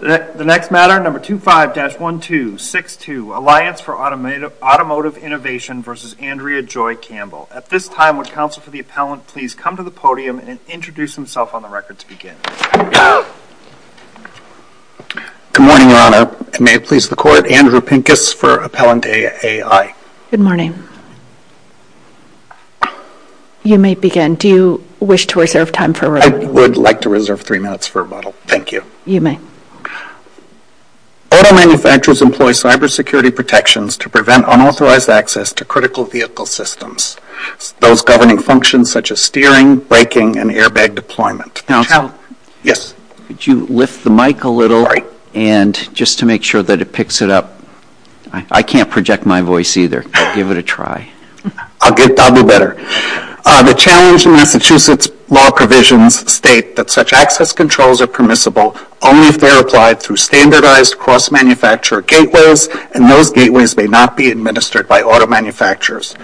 The next matter, number 25-1262, Alliance for Automotive Innovation v. Andrea Joy Campbell. At this time, would counsel for the appellant please come to the podium and introduce himself on the record to begin. Good morning, Your Honor. May it please the Court, Andrew Pincus for Appellant A.A.I. Good morning. You may begin. Do you wish to reserve time for review? I would like to reserve three minutes for rebuttal. Thank you. You may. Auto manufacturers employ cybersecurity protections to prevent unauthorized access to critical vehicle systems, those governing functions such as steering, braking, and airbag deployment. Yes. Could you lift the mic a little? Sorry. And just to make sure that it picks it up. I can't project my voice either. Give it a try. I'll do better. The challenge in Massachusetts law provisions state that such access controls are permissible only if they are applied through standardized cross-manufacturer gateways, and those gateways may not be administered by auto manufacturers.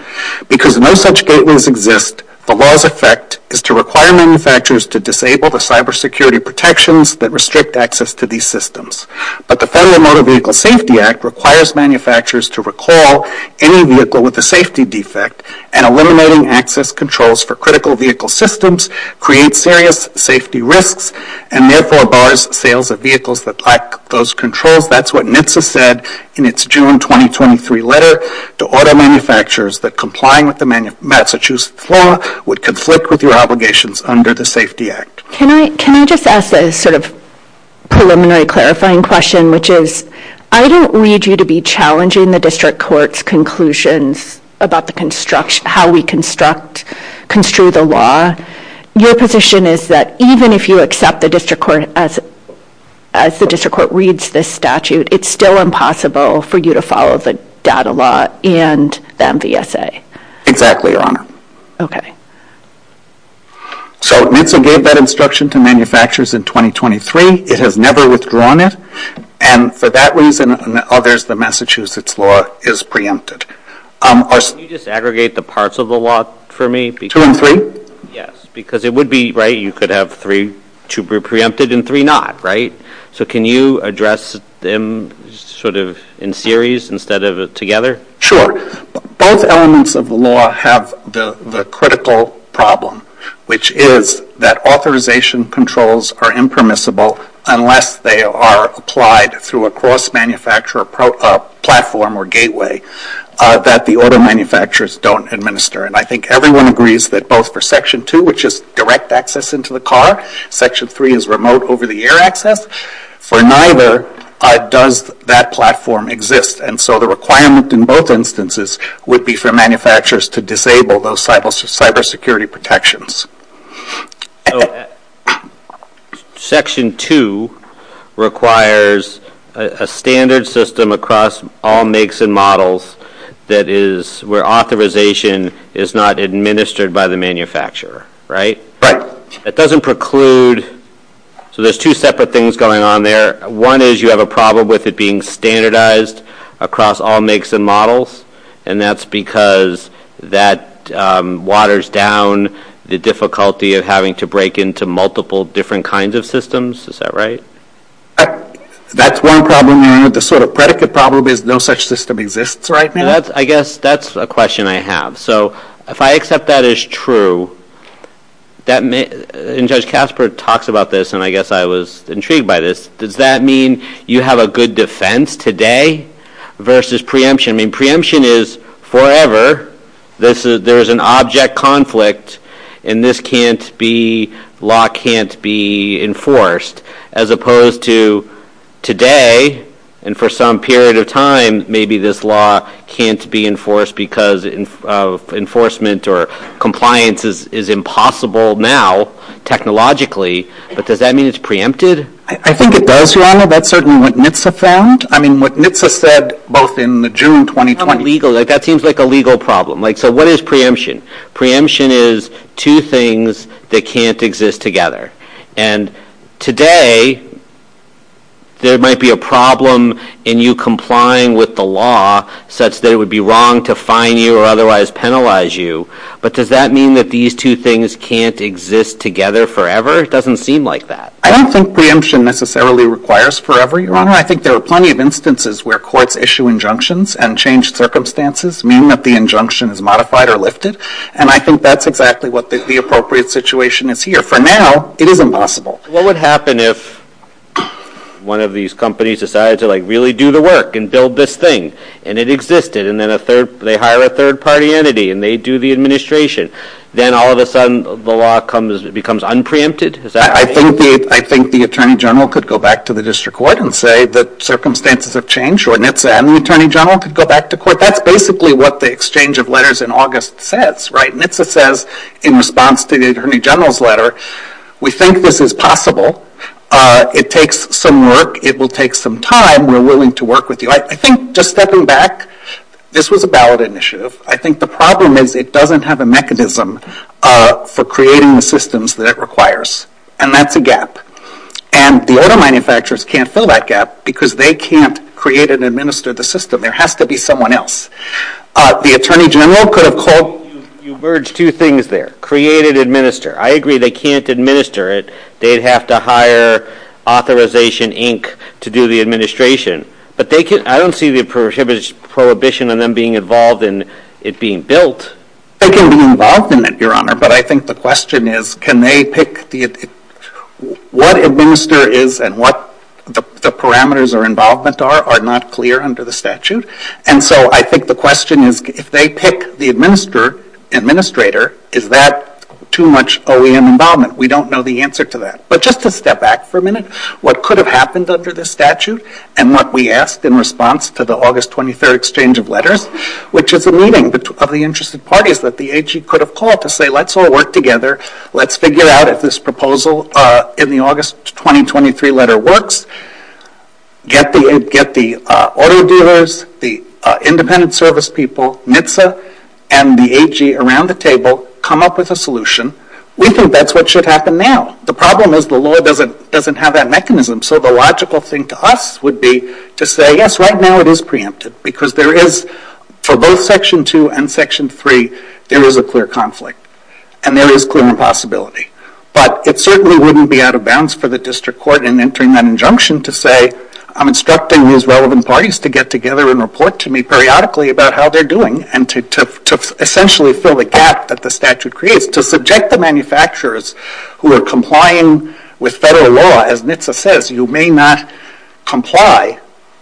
Because no such gateways exist, the law's effect is to require manufacturers to disable the cybersecurity protections that restrict access to these systems. But the Federal Motor Vehicle Safety Act requires manufacturers to recall any vehicle with a safety defect and eliminating access controls for critical vehicle systems creates serious safety risks and therefore bars sales of vehicles that lack those controls. That's what NHTSA said in its June 2023 letter to auto manufacturers that complying with the Massachusetts law would conflict with your obligations under the Safety Act. Can I just ask a sort of preliminary clarifying question, which is, I don't read you to be challenging the District Court's conclusions about how we construct, construe the law. Your position is that even if you accept the District Court as the District Court reads this statute, it's still impossible for you to follow the data law and the MVSA. Exactly, Your Honor. Okay. So NHTSA gave that instruction to manufacturers in 2023. It has never withdrawn it. And for that reason and others, the Massachusetts law is preempted. Can you just aggregate the parts of the law for me? Two and three? Yes, because it would be, right, you could have three to be preempted and three not, right? So can you address them sort of in series instead of together? Sure. Both elements of the law have the critical problem, which is that authorization controls are impermissible unless they are applied through a cross-manufacturer platform or gateway that the auto manufacturers don't administer. And I think everyone agrees that both for Section 2, which is direct access into the car, Section 3 is remote over-the-air access, for neither does that platform exist. And so the requirement in both instances would be for manufacturers to disable those cybersecurity protections. So Section 2 requires a standard system across all makes and models that is where authorization is not administered by the manufacturer, right? Right. It doesn't preclude, so there's two separate things going on there. One is you have a problem with it being standardized across all makes and models, and that's because that waters down the difficulty of having to break into multiple different kinds of systems. Is that right? That's one problem. The sort of predicate problem is no such system exists, right? I guess that's a question I have. So if I accept that as true, and Judge Kasper talks about this, and I guess I was intrigued by this, does that mean you have a good defense today versus preemption? I mean, preemption is forever. There is an object conflict, and this law can't be enforced. As opposed to today, and for some period of time, maybe this law can't be enforced because enforcement or compliance is impossible now technologically, but does that mean it's preempted? I think it does, Your Honor. That's certainly what NHTSA found. I mean, what NHTSA said both in June 2020 That seems like a legal problem. So what is preemption? Preemption is two things that can't exist together. And today, there might be a problem in you complying with the law such that it would be wrong to fine you or otherwise penalize you, but does that mean that these two things can't exist together forever? It doesn't seem like that. I don't think preemption necessarily requires forever, Your Honor. I think there are plenty of instances where courts issue injunctions and changed circumstances mean that the injunction is modified or lifted, and I think that's exactly what the appropriate situation is here. For now, it is impossible. What would happen if one of these companies decided to really do the work and build this thing, and it existed, and then they hire a third-party entity, and they do the administration? Then all of a sudden, the law becomes unpreempted? I think the Attorney General could go back to the District Court and say that circumstances have changed, or NHTSA and the Attorney General could go back to court. That's basically what the exchange of letters in August says, right? NHTSA says in response to the Attorney General's letter, We think this is possible. It takes some work. It will take some time. We're willing to work with you. I think just stepping back, this was a ballot initiative. I think the problem is it doesn't have a mechanism for creating the systems that it requires, and that's a gap, and the auto manufacturers can't fill that gap because they can't create and administer the system. There has to be someone else. The Attorney General could have called. You merged two things there, create and administer. I agree they can't administer it. They'd have to hire Authorization, Inc. to do the administration, but I don't see the prohibition on them being involved in it being built. They can be involved in it, Your Honor, but I think the question is can they pick what administer is and what the parameters or involvement are are not clear under the statute, and so I think the question is if they pick the administrator, is that too much OEM involvement? We don't know the answer to that, but just to step back for a minute, what could have happened under the statute and what we asked in response to the August 23 exchange of letters, which is a meeting of the interested parties that the AG could have called to say let's all work together. Let's figure out if this proposal in the August 2023 letter works. Get the auto dealers, the independent service people, NHTSA, and the AG around the table, come up with a solution. We think that's what should happen now. The problem is the law doesn't have that mechanism, so the logical thing to us would be to say yes, right now it is preemptive because there is, for both Section 2 and Section 3, there is a clear conflict and there is clear impossibility, but it certainly wouldn't be out of bounds for the district court in entering that injunction to say I'm instructing these relevant parties to get together and report to me periodically about how they're doing and to essentially fill the gap that the statute creates to subject the manufacturers who are complying with federal law, as NHTSA says you may not comply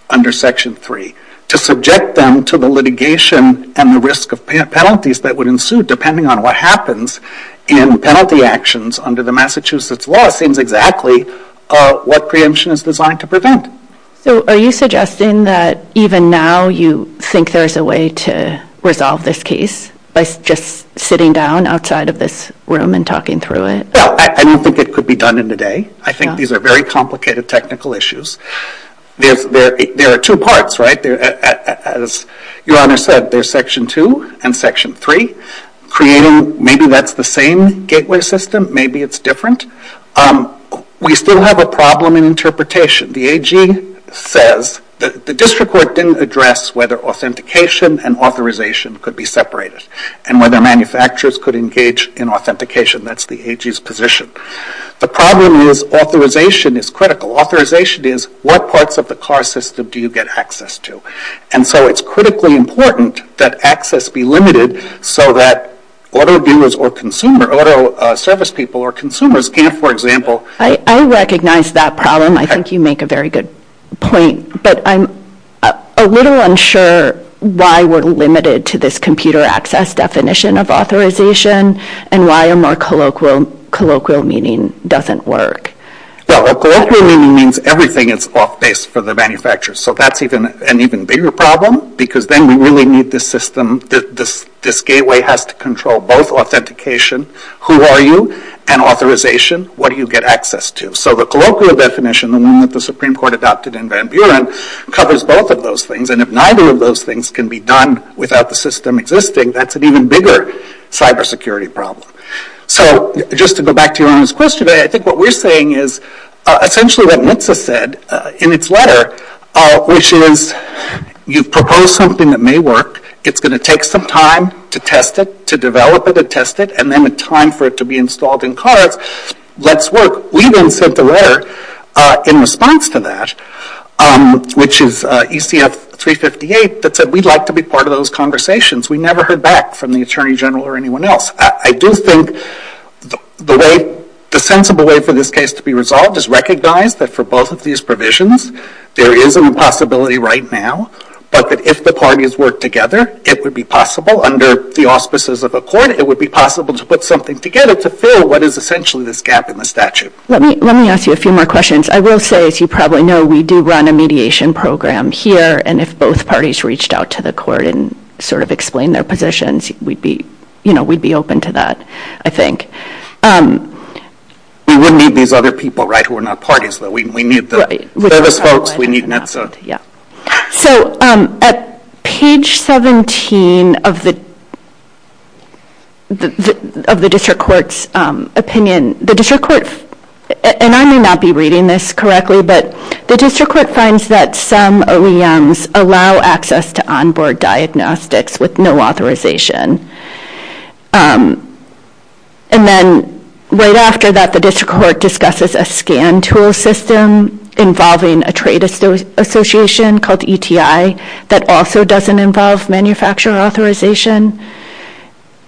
under Section 3, to subject them to the litigation and the risk of penalties that would ensue depending on what happens in penalty actions under the Massachusetts law seems exactly what preemption is designed to prevent. So are you suggesting that even now you think there is a way to resolve this case by just sitting down outside of this room and talking through it? No, I don't think it could be done in a day. I think these are very complicated technical issues. There are two parts, right? As Your Honor said, there's Section 2 and Section 3, creating maybe that's the same gateway system, maybe it's different. We still have a problem in interpretation. The AG says the district court didn't address whether authentication and authorization could be separated and whether manufacturers could engage in authentication. That's the AG's position. The problem is authorization is critical. Authorization is what parts of the car system do you get access to? And so it's critically important that access be limited so that auto viewers or consumer, auto service people or consumers can't, for example, I recognize that problem. I think you make a very good point. But I'm a little unsure why we're limited to this computer access definition of authorization and why a more colloquial meaning doesn't work. A colloquial meaning means everything is off base for the manufacturer. So that's an even bigger problem because then we really need this system, this gateway has to control both authentication, who are you, and authorization, what do you get access to. So the colloquial definition, the one that the Supreme Court adopted in Van Buren, covers both of those things. And if neither of those things can be done without the system existing, that's an even bigger cybersecurity problem. So just to go back to your earlier question, I think what we're saying is essentially what NHTSA said in its letter, which is you propose something that may work, it's going to take some time to test it, to develop it and test it, and then the time for it to be installed in cars lets work. We then sent a letter in response to that, which is ECF 358, that said we'd like to be part of those conversations. We never heard back from the Attorney General or anyone else. I do think the sensible way for this case to be resolved is recognize that for both of these provisions, there is an impossibility right now, but that if the parties work together, it would be possible under the auspices of a court, it would be possible to put something together to fill what is essentially this gap in the statute. Let me ask you a few more questions. I will say, as you probably know, we do run a mediation program here, and if both parties reached out to the court and sort of explained their positions, we'd be open to that, I think. We would need these other people, right, who are not parties, though. We need the service folks. We need NHTSA. So at page 17 of the district court's opinion, the district court, and I may not be reading this correctly, but the district court finds that some OEMs allow access to onboard diagnostics with no authorization. And then right after that, the district court discusses a scan tool system involving a trade association called ETI that also doesn't involve manufacturer authorization.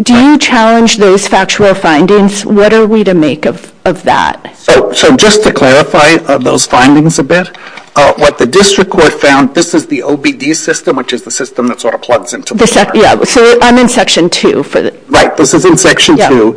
Do you challenge those factual findings? What are we to make of that? So just to clarify those findings a bit, what the district court found, this is the OBD system, which is the system that sort of plugs into the court. Yeah, so I'm in section 2. Right, this is in section 2.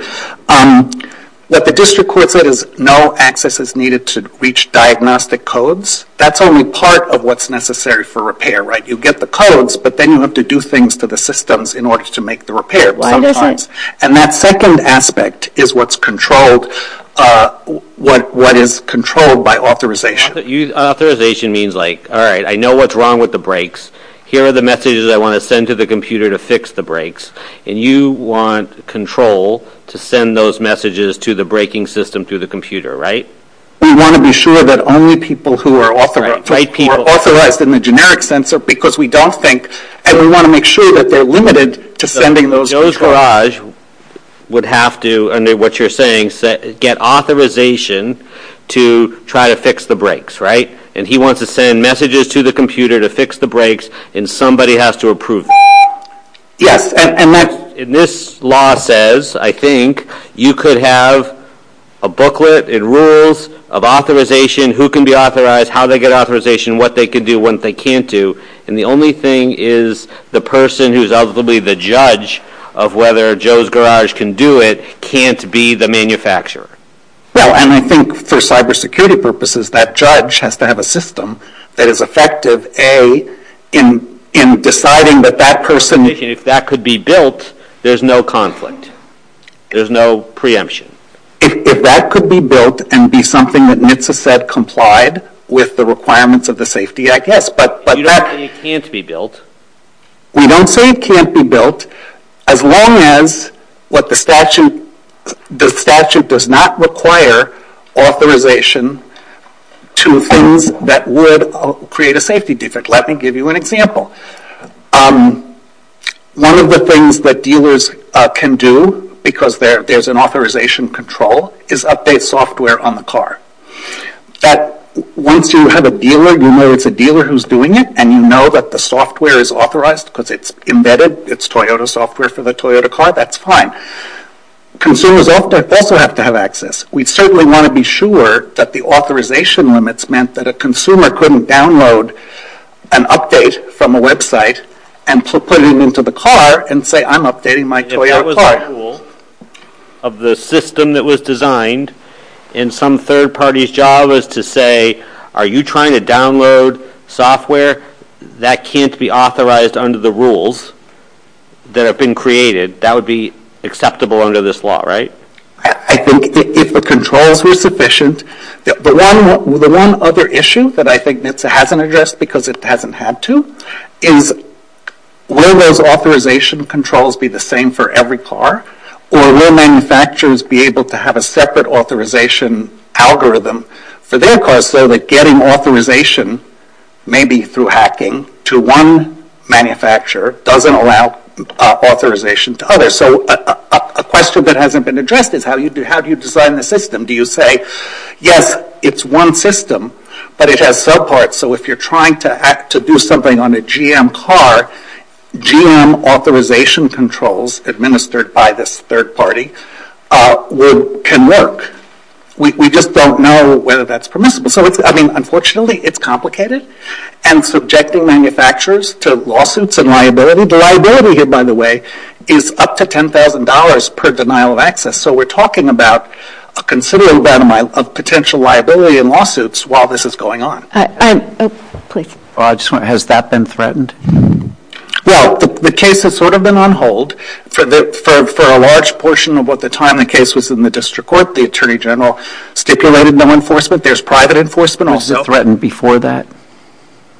What the district court said is no access is needed to reach diagnostic codes. That's only part of what's necessary for repair, right? You get the codes, but then you have to do things to the systems in order to make the repair sometimes. And that second aspect is what's controlled, what is controlled by authorization. Authorization means like, all right, I know what's wrong with the brakes. Here are the messages I want to send to the computer to fix the brakes, and you want control to send those messages to the braking system through the computer, right? We want to be sure that only people who are authorized in the generic sense are because we don't think, and we want to make sure that they're limited to sending those. So Joe's Garage would have to, under what you're saying, get authorization to try to fix the brakes, right? And he wants to send messages to the computer to fix the brakes, and somebody has to approve them. Yes, and that's... And this law says, I think, you could have a booklet, it rules of authorization, who can be authorized, how they get authorization, what they can do, what they can't do, and the only thing is the person who's ultimately the judge of whether Joe's Garage can do it can't be the manufacturer. Well, and I think for cybersecurity purposes that judge has to have a system that is effective, A, in deciding that that person... If that could be built, there's no conflict. There's no preemption. If that could be built and be something that NHTSA said complied with the requirements of the safety, I guess, but that... You don't say it can't be built. We don't say it can't be built as long as what the statute... The statute does not require authorization to things that would create a safety defect. Let me give you an example. One of the things that dealers can do because there's an authorization control is update software on the car. Once you have a dealer, you know it's a dealer who's doing it and you know that the software is authorized because it's embedded. It's Toyota software for the Toyota car. That's fine. Consumers also have to have access. We certainly want to be sure that the authorization limits meant that a consumer couldn't download an update from a website and put it into the car and say, I'm updating my Toyota car. If there was a rule of the system that was designed in some third party's job as to say, are you trying to download software that can't be authorized under the rules that have been created, that would be acceptable under this law, right? I think if the controls were sufficient... The one other issue that I think NHTSA hasn't addressed because it hasn't had to is will those authorization controls be the same for every car or will manufacturers be able to have a separate authorization algorithm for their cars so that getting authorization maybe through hacking to one manufacturer doesn't allow authorization to others. So a question that hasn't been addressed is how do you design the system? Do you say, yes, it's one system but it has subparts so if you're trying to do something on a GM car, GM authorization controls administered by this third party can work. We just don't know whether that's permissible. So, I mean, unfortunately it's complicated and subjecting manufacturers to lawsuits and liability. The liability here, by the way, is up to $10,000 per denial of access. So we're talking about a considerable amount of potential liability in lawsuits while this is going on. Has that been threatened? Well, the case has sort of been on hold. For a large portion of what the time the case was in the district court, the Attorney General stipulated no enforcement. There's private enforcement also. Was it threatened before that?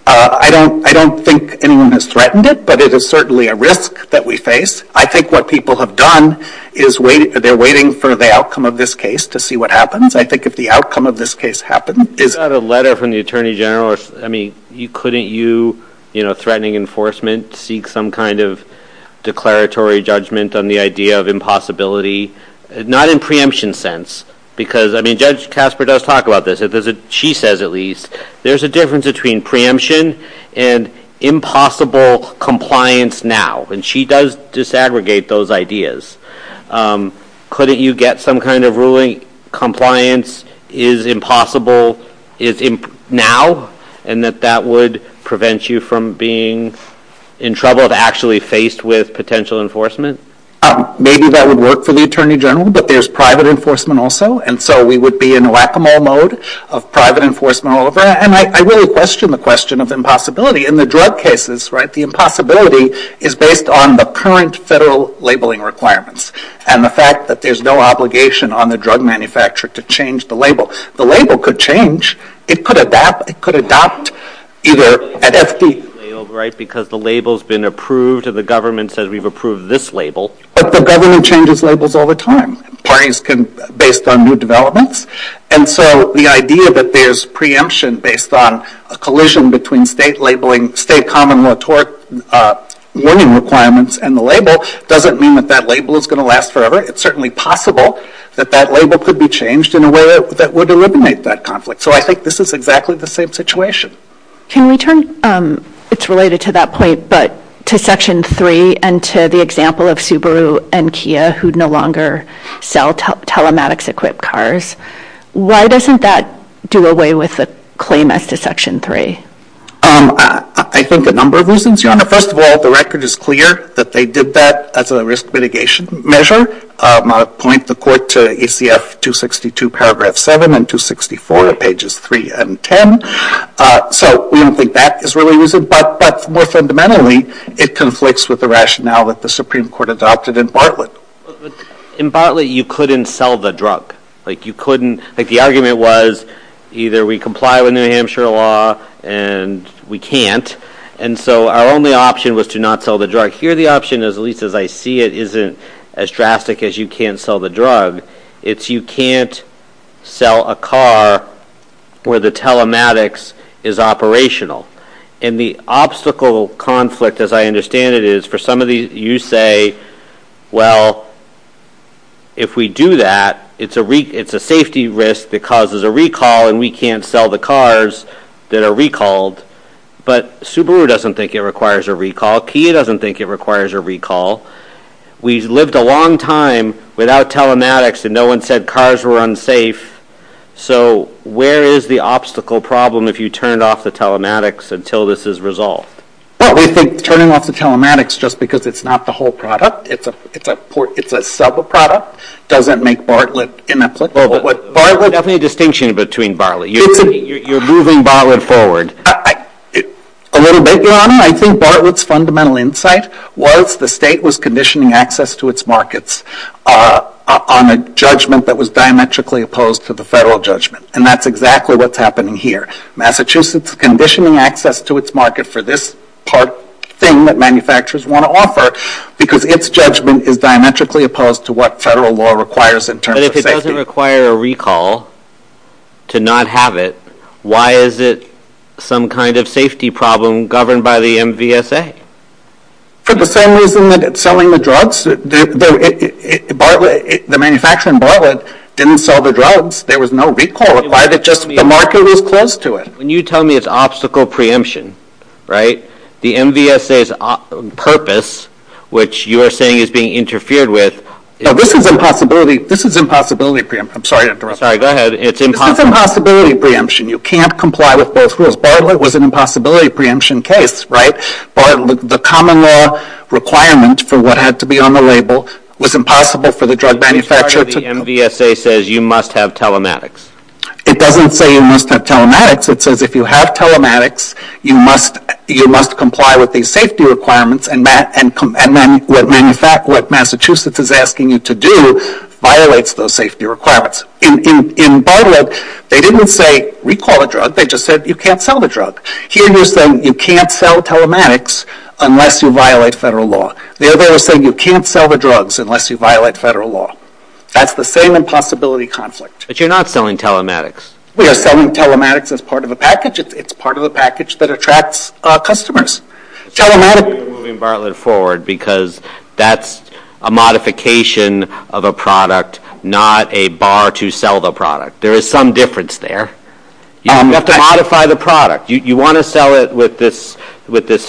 I don't think anyone has threatened it but it is certainly a risk that we face. I think what people have done is they're waiting for the outcome of this case to see what happens. I think if the outcome of this case happened... Is that a letter from the Attorney General? I mean, couldn't you, you know, threatening enforcement, seek some kind of declaratory judgment on the idea of impossibility? Not in preemption sense because, I mean, Judge Casper does talk about this. She says at least there's a difference between preemption and impossible compliance now. And she does disaggregate those ideas. Couldn't you get some kind of ruling saying compliance is impossible now and that that would prevent you from being in trouble if actually faced with potential enforcement? Maybe that would work for the Attorney General but there's private enforcement also and so we would be in whack-a-mole mode of private enforcement all over. And I really question the question of impossibility. In the drug cases, right, the impossibility is based on the current federal labeling requirements and the fact that there's no obligation on the drug manufacturer to change the label. The label could change. It could adapt. It could adopt either at FDA. Right, because the label's been approved and the government says we've approved this label. But the government changes labels all the time. Parties can, based on new developments. And so the idea that there's preemption based on a collision between state labeling, state common law tort warning requirements and the label doesn't mean that that label is going to last forever. It's certainly possible that that label could be changed in a way that would eliminate that conflict. So I think this is exactly the same situation. Can we turn, it's related to that point, but to Section 3 and to the example of Subaru and Kia who no longer sell telematics-equipped cars. Why doesn't that do away with the claim as to Section 3? I think a number of reasons. First of all, the record is clear that they did that as a risk mitigation measure. I'll point the court to ACF 262, paragraph 7, and 264, pages 3 and 10. So we don't think that is really reason. But more fundamentally, it conflicts with the rationale that the Supreme Court adopted in Bartlett. In Bartlett, you couldn't sell the drug. Like, you couldn't. Like, the argument was either we comply with New Hampshire law and we can't. And so our only option was to not sell the drug. Here, the option, at least as I see it, isn't as drastic as you can't sell the drug. It's you can't sell a car where the telematics is operational. And the obstacle conflict, as I understand it, is for some of these, you say, well, if we do that, it's a safety risk that causes a recall and we can't sell the cars that are recalled. But Subaru doesn't think it requires a recall. Kia doesn't think it requires a recall. We lived a long time without telematics and no one said cars were unsafe. So where is the obstacle problem if you turn off the telematics until this is resolved? Well, we think turning off the telematics just because it's not the whole product, it's a sub-product, doesn't make Bartlett inapplicable. Bartlett... You don't have any distinction between Bartlett. You're moving Bartlett forward. A little bit, Your Honor. I think Bartlett's fundamental insight was the state was conditioning access to its markets on a judgment that was diametrically opposed to the federal judgment. And that's exactly what's happening here. Massachusetts is conditioning access to its market for this part thing that manufacturers want to offer because its judgment is diametrically opposed to what federal law requires in terms of safety. But if it doesn't require a recall to not have it, why is it some kind of safety problem governed by the MVSA? For the same reason that it's selling the drugs. The manufacturer in Bartlett didn't sell the drugs. There was no recall required. The market was closed to it. When you tell me it's obstacle preemption, the MVSA's purpose, which you're saying is being interfered with... No, this is impossibility preemption. I'm sorry to interrupt. Sorry, go ahead. This is impossibility preemption. You can't comply with both rules. Bartlett was an impossibility preemption case, right? The common law requirement for what had to be on the label was impossible for the drug manufacturer to... The MVSA says you must have telematics. It doesn't say you must have telematics. It says if you have telematics, you must comply with these safety requirements and what Massachusetts is asking you to do violates those safety requirements. In Bartlett, they didn't say recall a drug. They just said you can't sell the drug. Here, you're saying you can't sell telematics unless you violate federal law. There, they were saying you can't sell the drugs unless you violate federal law. That's the same impossibility conflict. But you're not selling telematics. We are selling telematics as part of a package. It's part of a package that attracts customers. Telematics... You're moving Bartlett forward because that's a modification of a product, not a bar to sell the product. There is some difference there. You have to modify the product. You want to sell it with this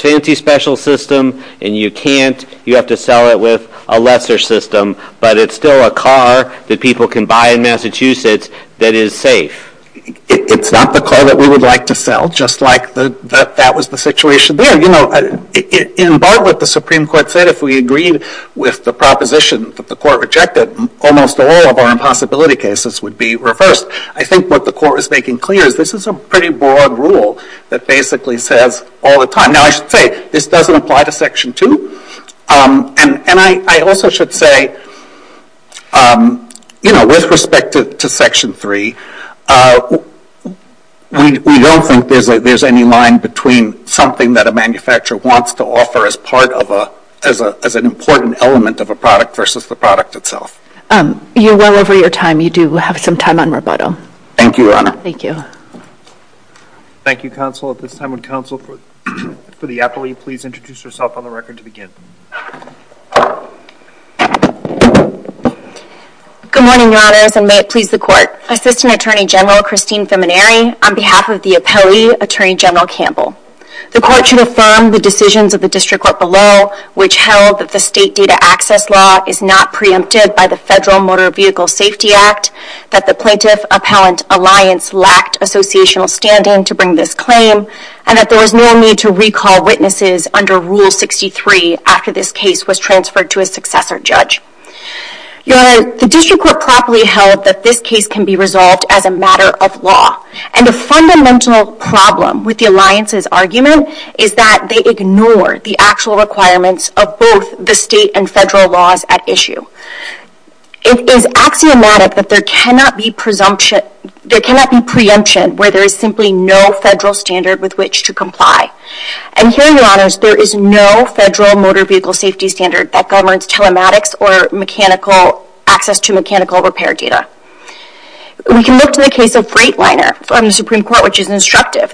fancy special system and you can't. You have to sell it with a lesser system. But it's still a car that people can buy in Massachusetts that is safe. It's not the car that we would like to sell, just like that was the situation there. You know, in Bartlett, the Supreme Court said if we agreed with the proposition that the Court rejected, almost all of our impossibility cases would be reversed. I think what the Court is making clear is this is a pretty broad rule that basically says all the time... Now, I should say, this doesn't apply to Section 2. And I also should say, you know, with respect to Section 3, we don't think there's any line between something that a manufacturer wants to offer as an important element of a product versus the product itself. You're well over your time. You do have some time on rebuttal. Thank you, Your Honor. Thank you. Thank you, Counsel. At this time, would Counsel for the appellee please introduce herself on the record to begin? Good morning, Your Honors, and may it please the Court. Assistant Attorney General Christine Feminari on behalf of the appellee, Attorney General Campbell. The Court should affirm the decisions of the District Court below which held that the state data access law is not preempted by the Federal Motor Vehicle Safety Act, that the Plaintiff Appellant Alliance lacked associational standing to bring this claim, and that there was no need to recall witnesses under Rule 63 after this case was transferred to a successor judge. Your Honor, the District Court properly held that this case can be resolved as a matter of law. And a fundamental problem with the Alliance's argument is that they ignore the actual requirements of both the state and federal laws at issue. It is axiomatic that there cannot be preemption where there is simply no federal standard with which to comply. And here, Your Honors, there is no federal motor vehicle safety standard that governs telematics or access to mechanical repair data. We can look to the case of Freightliner from the Supreme Court, which is instructive.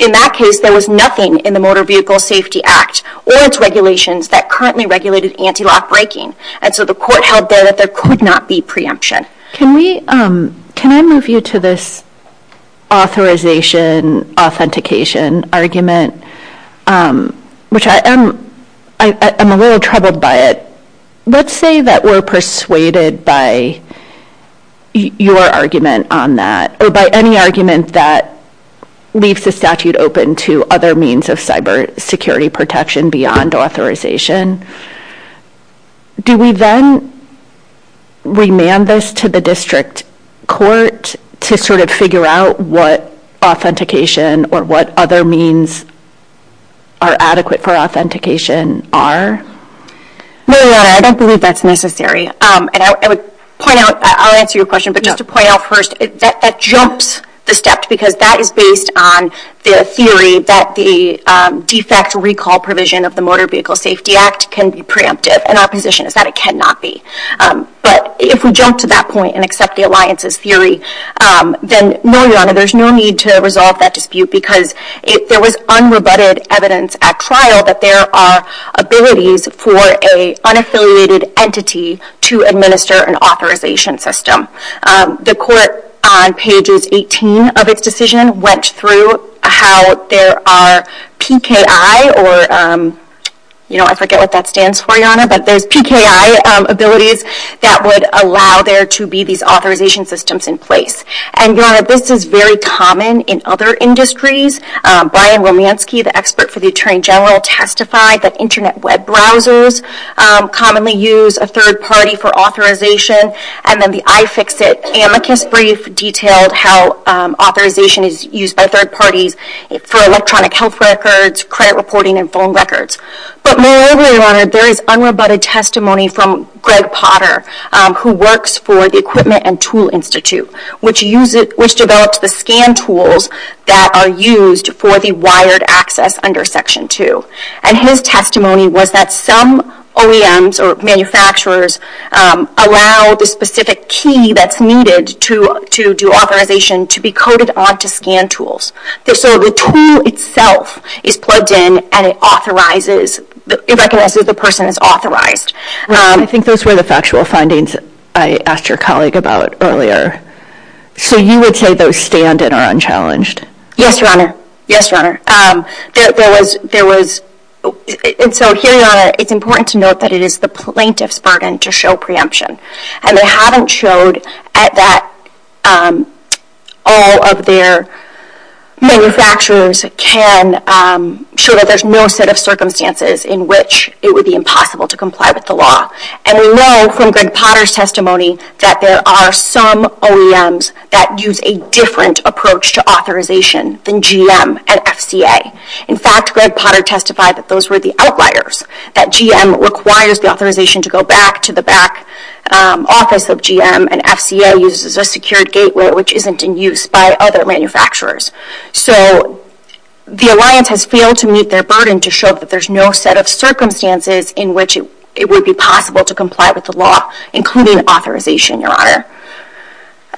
In that case, there was nothing in the Motor Vehicle Safety Act or its regulations that currently regulated anti-lock braking. And so the Court held there that there could not be preemption. Can I move you to this authorization, authentication argument, which I am a little troubled by it. Let's say that we're persuaded by your argument on that, or by any argument that leaves the statute open to other means of cybersecurity protection beyond authorization. Do we then remand this to the district court to sort of figure out what authentication or what other means are adequate for authentication are? No, Your Honor, I don't believe that's necessary. And I would point out, I'll answer your question, but just to point out first, that jumps the step, because that is based on the theory that the defect recall provision of the Motor Vehicle Safety Act can be preemptive. And our position is that it cannot be. But if we jump to that point and accept the alliance's theory, then no, Your Honor, there's no need to resolve that dispute, because there was unrebutted evidence at trial that there are abilities for a unaffiliated entity to administer an authorization system. The court on pages 18 of its decision went through how there are PKI, or I forget what that stands for, Your Honor, but there's PKI abilities that would allow there to be these authorization systems in place. And Your Honor, this is very common in other industries. Brian Romanski, the expert for the Attorney General, testified that internet web browsers commonly use a third party for authorization. And then the iFixit amicus brief detailed how authorization is used by third parties for electronic health records, credit reporting, and phone records. But moreover, Your Honor, there is unrebutted testimony from Greg Potter, who works for the Equipment and Tool Institute, which developed the scan tools that are used for the wired access under Section 2. And his testimony was that some OEMs, or manufacturers, allow the specific key that's needed to do authorization to be coded onto scan tools. So the tool itself is plugged in, and it recognizes the person as authorized. I think those were the factual findings I asked your colleague about earlier. So you would say those stand and are unchallenged? Yes, Your Honor. And so here, Your Honor, it's important to note that it is the plaintiff's burden to show preemption. And they haven't showed that all of their manufacturers can show that there's no set of circumstances in which it would be impossible to comply with the law. And we know from Greg Potter's testimony that there are some OEMs that use a different approach to authorization than GM and FCA. In fact, Greg Potter testified that those were the outliers, that GM requires the authorization to go back to the back office of GM, and FCA uses a secured gateway, which isn't in use by other manufacturers. So the alliance has failed to meet their burden to show that there's no set of circumstances in which it would be possible to comply with the law, including authorization, Your Honor.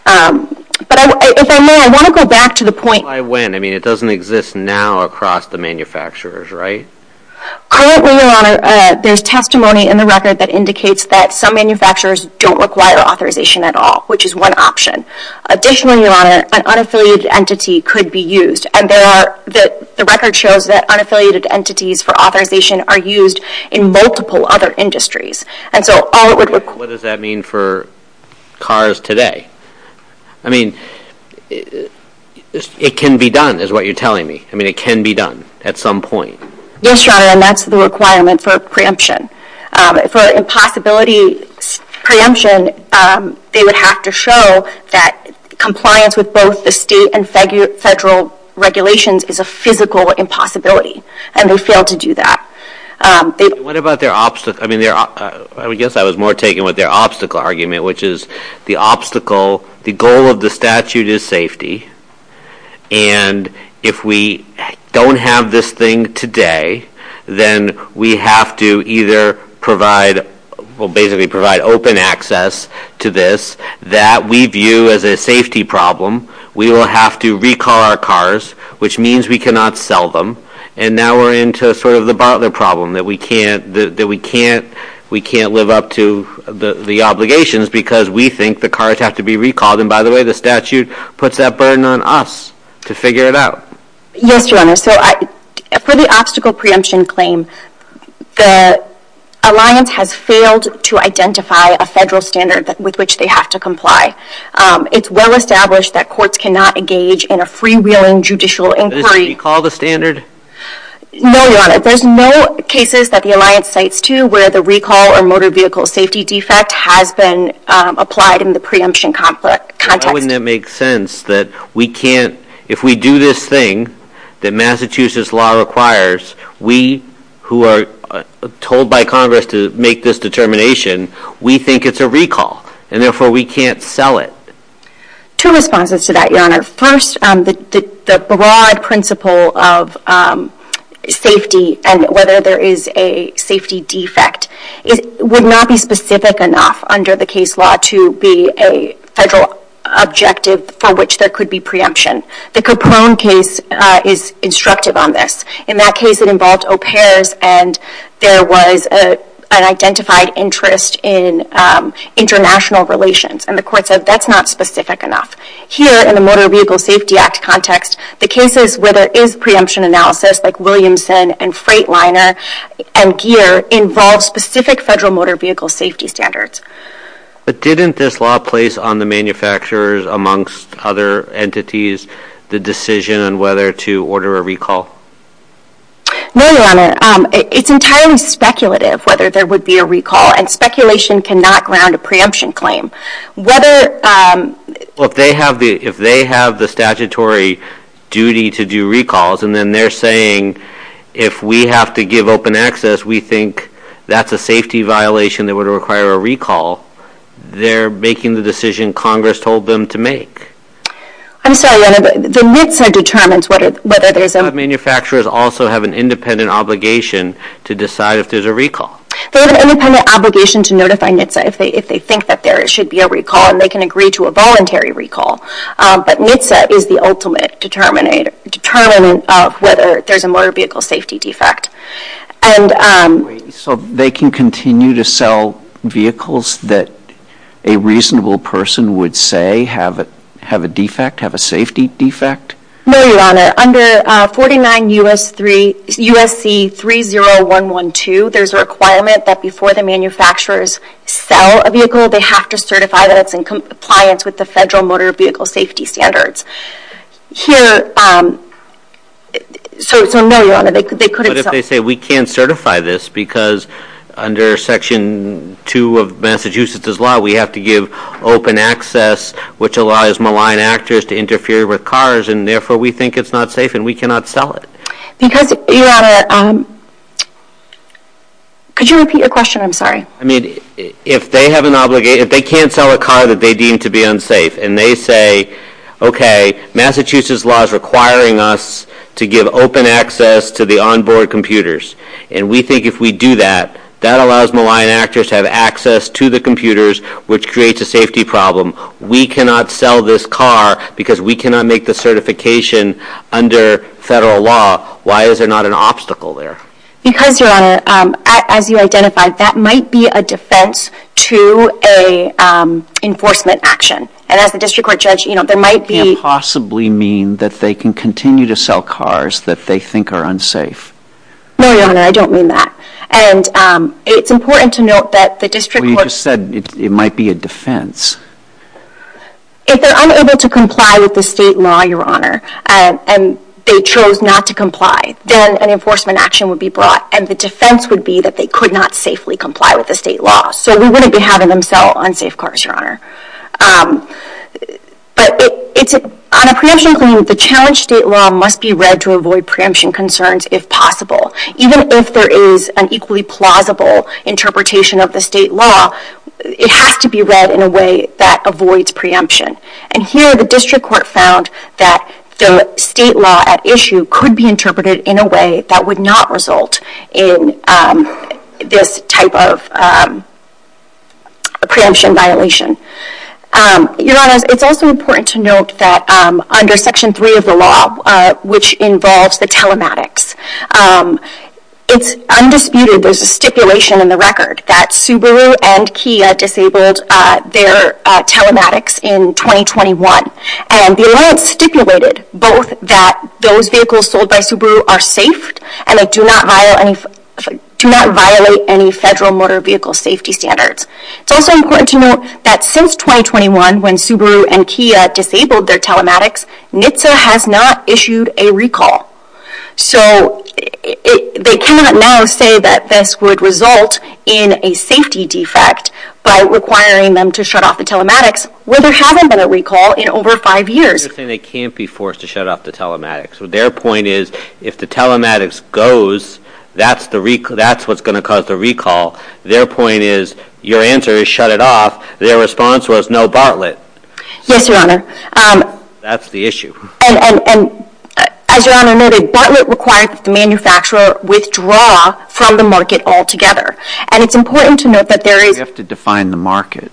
But if I may, I want to go back to the point. Why when? I mean, it doesn't exist now across the manufacturers, right? Currently, Your Honor, there's testimony in the record that indicates that some manufacturers don't require authorization at all, which is one option. Additionally, Your Honor, an unaffiliated entity could be used. And the record shows that unaffiliated entities for authorization are used in multiple other industries. And so all it would require. What does that mean for cars today? I mean, it can be done is what you're telling me. I mean, it can be done at some point. Yes, Your Honor, and that's the requirement for preemption. For impossibility preemption, they would have to show that compliance with both the state and federal regulations is a physical impossibility. And they failed to do that. What about their obstacle? I mean, I guess I was more taken with their obstacle argument, which is the obstacle, the goal of the statute is safety. And if we don't have this thing today, then we have to either provide, well, basically provide open access to this that we view as a safety problem. We will have to recall our cars, which means we cannot sell them. And now we're into sort of the Butler problem that we can't live up to the obligations, because we think the cars have to be recalled. And by the way, the statute puts that burden on us to figure it out. Yes, Your Honor. So for the obstacle preemption claim, the alliance has failed to identify a federal standard with which they have to comply. It's well established that courts cannot engage in a freewheeling judicial inquiry. Does it recall the standard? No, Your Honor. There's no cases that the alliance cites to where the recall or motor vehicle safety defect has been applied in the preemption context. Why wouldn't it make sense that we can't, if we do this thing that Massachusetts law requires, we who are told by Congress to make this determination, we think it's a recall. And therefore, we can't sell it. Two responses to that, Your Honor. First, the broad principle of safety and whether there is a safety defect would not be specific enough under the case law to be a federal objective for which there could be preemption. The Capone case is instructive on this. In that case, it involved au pairs, and there was an identified interest in international relations. And the court said, that's not specific enough. Here, in the Motor Vehicle Safety Act context, the cases where there is preemption analysis, like Williamson and Freightliner and GEAR, involve specific federal motor vehicle safety standards. But didn't this law place on the manufacturers, amongst other entities, the decision on whether to order a recall? No, Your Honor. It's entirely speculative whether there would be a recall. And speculation cannot ground a preemption claim. Well, if they have the statutory duty to do recalls, and then they're saying, if we have to give open access, we think that's a safety violation that would require a recall, they're making the decision Congress told them to make. I'm sorry, Your Honor, but the NHTSA determines whether there's a recall. But manufacturers also have an independent obligation to decide if there's a recall. They have an independent obligation to notify NHTSA if they think that there should be a recall. And they can agree to a voluntary recall. But NHTSA is the ultimate determinant of whether there's a motor vehicle safety defect. So they can continue to sell vehicles that a reasonable person would say have a defect, have a safety defect? No, Your Honor. Under 49 U.S.C. 30112, there's a requirement that before the manufacturers sell a vehicle, they have to certify that it's in compliance with the federal motor vehicle safety standards. Here, so no, Your Honor, they couldn't sell. But if they say, we can't certify this, because under Section 2 of Massachusetts' law, we have to give open access, which allows malign actors to interfere with cars. And therefore, we think it's not safe, and we cannot sell it. Because, Your Honor, could you repeat your question? I'm sorry. I mean, if they have an obligation, if they can't sell a car that they deem to be unsafe, and they say, OK, Massachusetts' law is requiring us to give open access to the onboard computers. And we think if we do that, that allows malign actors to have access to the computers, which creates a safety problem. We cannot sell this car, because we cannot make the certification under federal law. Why is there not an obstacle there? Because, Your Honor, as you identified, that might be a defense to a enforcement action. And as the district court judge, there might be. You can't possibly mean that they can continue to sell cars that they think are unsafe. No, Your Honor, I don't mean that. And it's important to note that the district court. Well, you just said it might be a defense. If they're unable to comply with the state law, Your Honor, and they chose not to comply, then an enforcement action would be brought. And the defense would be that they could not safely comply with the state law. So we wouldn't be having them sell unsafe cars, Your Honor. But on a preemption claim, the challenge state law must be read to avoid preemption concerns, if possible. Even if there is an equally plausible interpretation of the state law, it has to be read in a way that avoids preemption. And here, the district court found that the state law at issue could be interpreted in a way that would not result in this type of preemption violation. Your Honor, it's also important to note that under Section 3 of the law, which involves the telematics, it's undisputed there's a stipulation in the record that Subaru and Kia disabled their telematics in 2021. And the alliance stipulated both that those vehicles sold by Subaru are safe, and they do not violate any federal motor vehicle safety standards. It's also important to note that since 2021, when Subaru and Kia disabled their telematics, NHTSA has not issued a recall. So they cannot now say that this would result in a safety defect by requiring them to shut off the telematics, where there haven't been a recall in over five years. They can't be forced to shut off the telematics. Their point is, if the telematics goes, that's what's going to cause the recall. Their point is, your answer is shut it off. Their response was no Bartlett. Yes, Your Honor. That's the issue. And as Your Honor noted, Bartlett required the manufacturer withdraw from the market altogether. And it's important to note that there is. You have to define the market.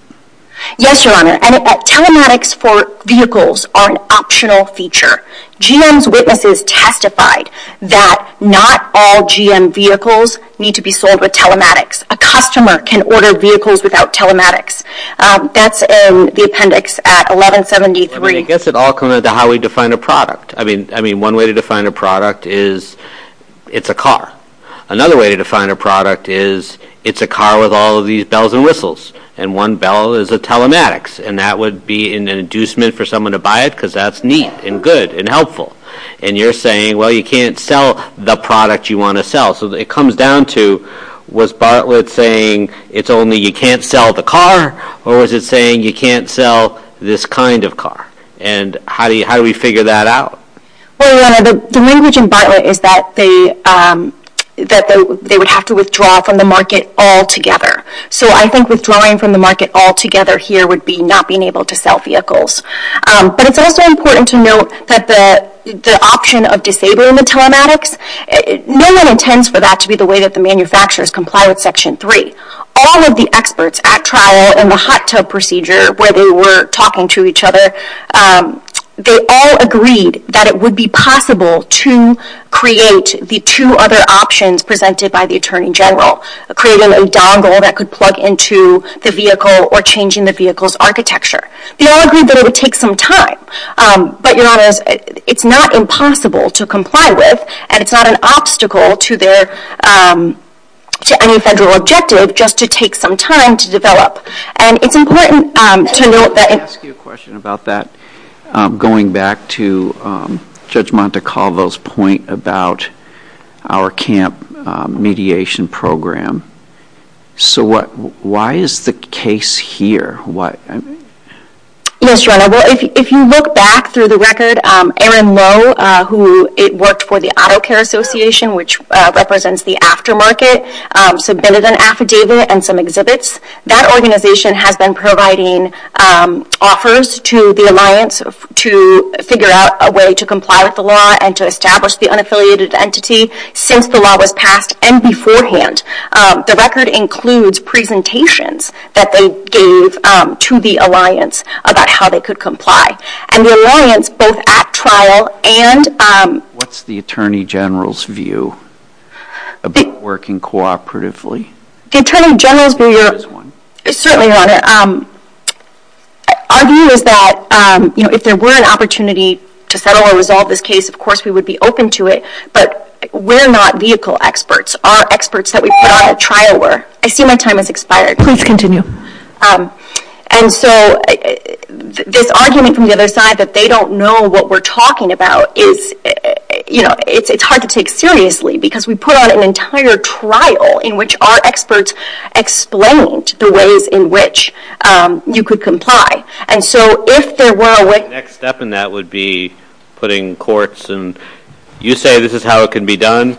Yes, Your Honor. And telematics for vehicles are an optional feature. GM's witnesses testified that not all GM vehicles need to be sold with telematics. A customer can order vehicles without telematics. That's in the appendix at 1173. I guess it all comes down to how we define a product. One way to define a product is it's a car. Another way to define a product is it's a car with all of these bells and whistles. And one bell is a telematics. And that would be an inducement for someone to buy it, because that's neat and good and helpful. And you're saying, well, you can't sell the product you want to sell. So it comes down to, was Bartlett saying, it's only you can't sell the car? Or was it saying, you can't sell this kind of car? And how do we figure that out? Well, Your Honor, the language in Bartlett is that they would have to withdraw from the market altogether. So I think withdrawing from the market altogether here would be not being able to sell vehicles. But it's also important to note that the option of disabling the telematics, no one intends for that to be the way that the manufacturers comply with Section 3. All of the experts at trial in the hot tub procedure, where they were talking to each other, they all agreed that it would be possible to create the two other options presented by the Attorney General, creating a dongle that could plug into the vehicle or changing the vehicle's architecture. They all agreed that it would take some time. But Your Honor, it's not impossible to comply with. And it's not an obstacle to any federal objective just to take some time to develop. And it's important to note that... Let me ask you a question about that, going back to Judge Montecalvo's point about our camp mediation program. So why is the case here? Yes, Your Honor, if you look back through the record, Aaron Lowe, who worked for the Auto Care Association, which represents the aftermarket, submitted an affidavit and some exhibits. That organization has been providing offers to the alliance to figure out a way to comply with the law and to establish the unaffiliated entity. Since the law was passed and beforehand, the record includes presentations that they gave to the alliance about how they could comply. And the alliance, both at trial and... What's the Attorney General's view about working cooperatively? The Attorney General's view... Certainly, Your Honor. Our view is that if there were an opportunity to settle or resolve this case, of course we would be open to it. But we're not vehicle experts. Our experts that we put out at trial were. I see my time has expired. Please continue. And so this argument from the other side that they don't know what we're talking about is, you know, it's hard to take seriously because we put on an entire trial in which our experts explained the ways in which you could comply. And so if there were a way... The next step in that would be putting courts and... You say this is how it can be done.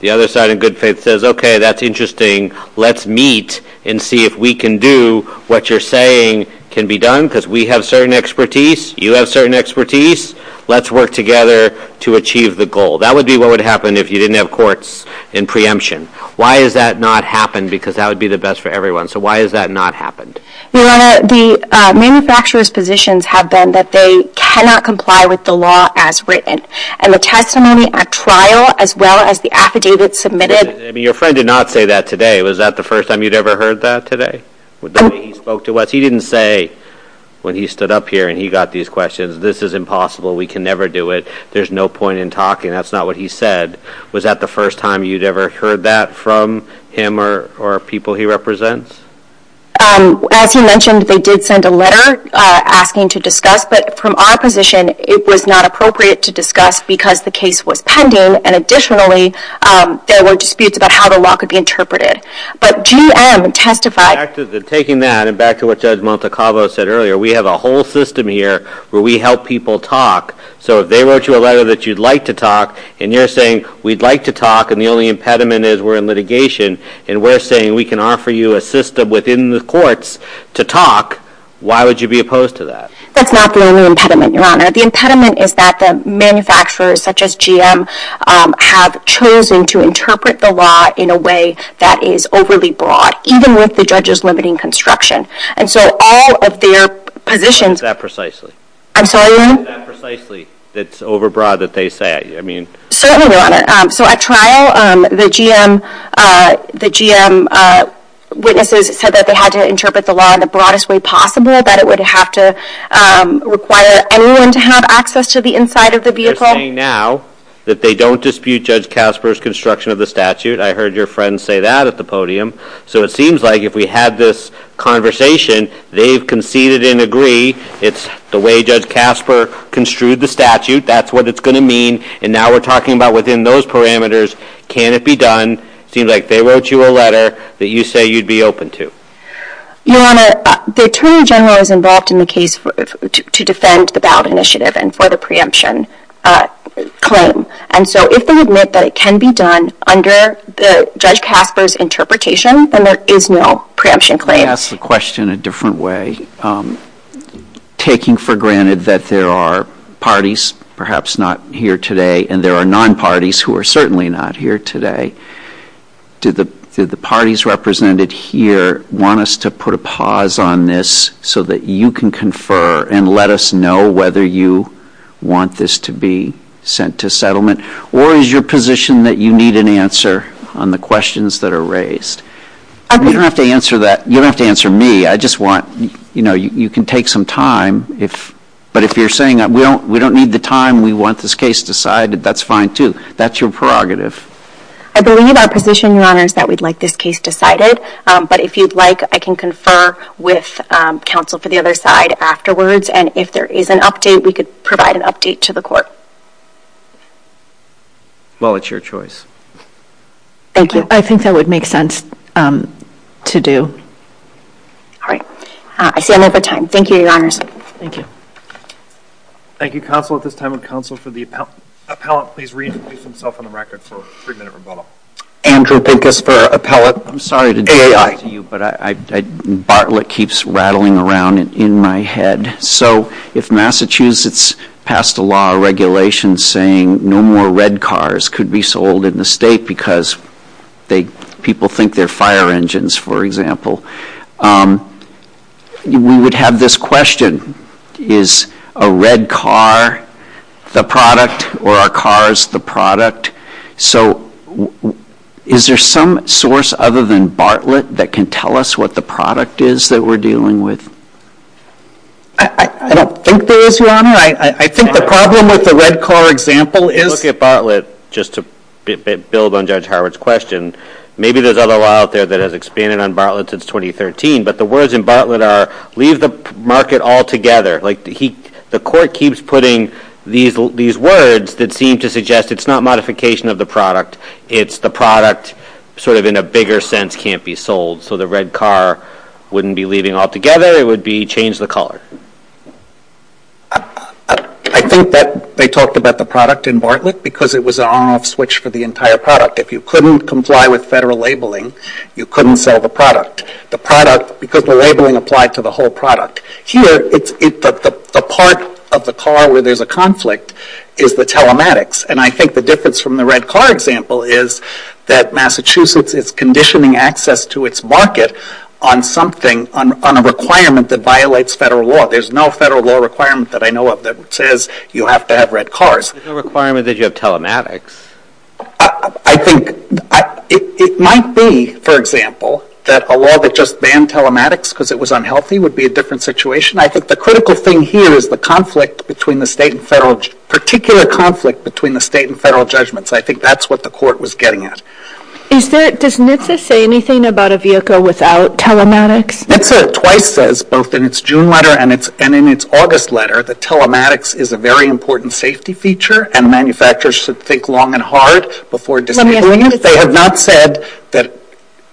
The other side, in good faith, says, Okay, that's interesting. Let's meet and see if we can do what you're saying can be done because we have certain expertise, you have certain expertise. Let's work together to achieve the goal. That would be what would happen if you didn't have courts in preemption. Why has that not happened? Because that would be the best for everyone. So why has that not happened? Your Honor, the manufacturer's positions have been that they cannot comply with the law as written. And the testimony at trial, as well as the affidavit submitted... Your friend did not say that today. Was that the first time you'd ever heard that today? The way he spoke to us? He didn't say, when he stood up here and he got these questions, This is impossible. We can never do it. There's no point in talking. That's not what he said. Was that the first time you'd ever heard that from him or people he represents? As he mentioned, they did send a letter asking to discuss. But from our position, it was not appropriate to discuss because the case was pending. Additionally, there were disputes about how the law could be interpreted. But GM testified... Taking that, and back to what Judge Montecavo said earlier, we have a whole system here where we help people talk. So if they wrote you a letter that you'd like to talk, and you're saying, we'd like to talk, and the only impediment is we're in litigation, and we're saying we can offer you a system within the courts to talk, why would you be opposed to that? That's not the only impediment, Your Honor. The impediment is that the manufacturers, such as GM, have chosen to interpret the law in a way that is overly broad, even with the judges limiting construction. And so all of their positions... Is that precisely? I'm sorry, Your Honor? Is that precisely that's overbroad that they say? Certainly, Your Honor. So at trial, the GM witnesses said that they had to interpret the law in the broadest way possible, that it would have to require anyone to have access to the inside of the vehicle? They're saying now that they don't dispute Judge Casper's construction of the statute. I heard your friend say that at the podium. So it seems like if we had this conversation, they've conceded and agree it's the way Judge Casper construed the statute, that's what it's going to mean, and now we're talking about within those parameters, can it be done? It seems like they wrote you a letter that you say you'd be open to. Your Honor, the Attorney General is involved in the case to defend the ballot initiative and for the preemption claim. And so if they admit that it can be done under Judge Casper's interpretation, then there is no preemption claim. Let me ask the question a different way. Taking for granted that there are parties perhaps not here today, and there are non-parties who are certainly not here today, do the parties represented here want us to put a pause on this so that you can confer and let us know whether you want this to be sent to settlement? Or is your position that you need an answer on the questions that are raised? You don't have to answer that. You don't have to answer me. I just want, you know, you can take some time. But if you're saying we don't need the time, we want this case decided, that's fine too. That's your prerogative. I believe our position, Your Honor, is that we'd like this case decided. But if you'd like, I can confer with counsel for the other side afterwards. And if there is an update, we could provide an update to the court. Well, it's your choice. Thank you. I think that would make sense to do. All right. I see I'm over time. Thank you, Your Honors. Thank you. Thank you, counsel. At this time, would counsel for the appellant please reintroduce himself on the record for a three-minute rebuttal? Andrew Pincus for appellant. I'm sorry to do this to you, but Bartlett keeps rattling around in my head. So if Massachusetts passed a law or regulation saying no more red cars could be sold in the state because people think they're fire engines, for example, we would have this question. Is a red car the product or are cars the product? So is there some source other than Bartlett that can tell us what the product is that we're dealing with? I don't think there is, Your Honor. I think the problem with the red car example is If you look at Bartlett, just to build on Judge Howard's question, maybe there's other law out there that has expanded on Bartlett since 2013, but the words in Bartlett are leave the market altogether. The court keeps putting these words that seem to suggest it's not modification of the product. It's the product sort of in a bigger sense can't be sold. So the red car wouldn't be leaving altogether. It would be change the color. I think that they talked about the product in Bartlett because it was an on-off switch for the entire product. If you couldn't comply with federal labeling, you couldn't sell the product. The product, because the labeling applied to the whole product. Here, the part of the car where there's a conflict is the telematics. And I think the difference from the red car example is that Massachusetts is conditioning access to its market on something, on a requirement that violates federal law. There's no federal law requirement that I know of that says you have to have red cars. There's no requirement that you have telematics. I think it might be, for example, that a law that just banned telematics because it was unhealthy would be a different situation. I think the critical thing here is the conflict between the state and federal, particular conflict between the state and federal judgments. I think that's what the court was getting at. Does NHTSA say anything about a vehicle without telematics? NHTSA twice says, both in its June letter and in its August letter, that telematics is a very important safety feature and manufacturers should think long and hard before disabling it. They have not said that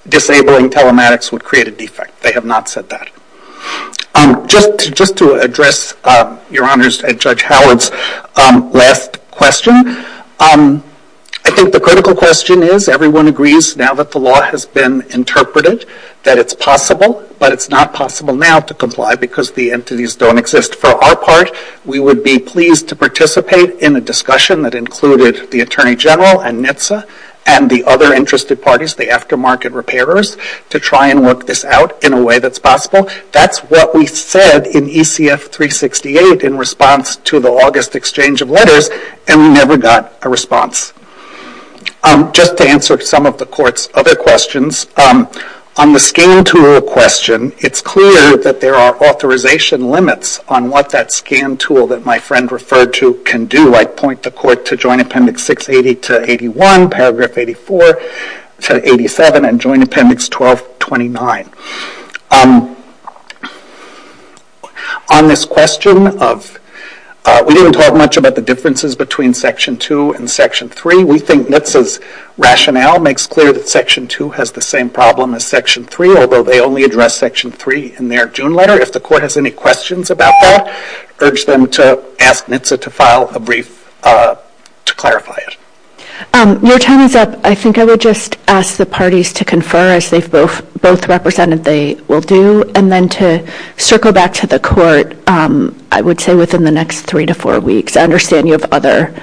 disabling telematics would create a defect. They have not said that. Just to address Your Honors Judge Howard's last question, I think the critical question is everyone agrees now that the law has been interpreted that it's possible, but it's not possible now to comply because the entities don't exist for our part. We would be pleased to participate in a discussion that included the Attorney General and NHTSA and the other interested parties, the aftermarket repairers, to try and work this out in a way that's possible. That's what we said in ECF 368 in response to the August exchange of letters, and we never got a response. Just to answer some of the court's other questions, on the scan tool question, it's clear that there are authorization limits on what that scan tool that my friend referred to can do. I point the court to Joint Appendix 680 to 81, paragraph 84 to 87, and Joint Appendix 1229. On this question, we didn't talk much about the differences between Section 2 and Section 3. We think NHTSA's rationale makes clear that Section 2 has the same problem as Section 3, although they only address Section 3 in their June letter. If the court has any questions about that, I urge them to ask NHTSA to file a brief to clarify it. Your time is up. I think I would just ask the parties to confer, as they've both represented they will do, and then to circle back to the court, I would say, within the next three to four weeks. I understand you have other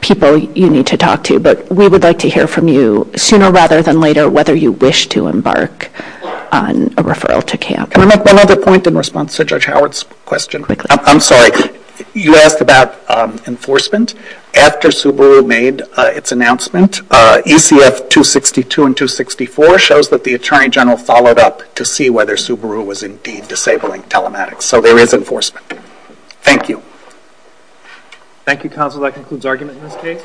people you need to talk to, but we would like to hear from you sooner rather than later whether you wish to embark on a referral to camp. Can I make one other point in response to Judge Howard's question? Quickly. I'm sorry. You asked about enforcement. After Subaru made its announcement, ECF 262 and 264 shows that the Attorney General followed up to see whether Subaru was indeed disabling telematics, so there is enforcement. Thank you. Thank you, Counsel. That concludes argument in this case.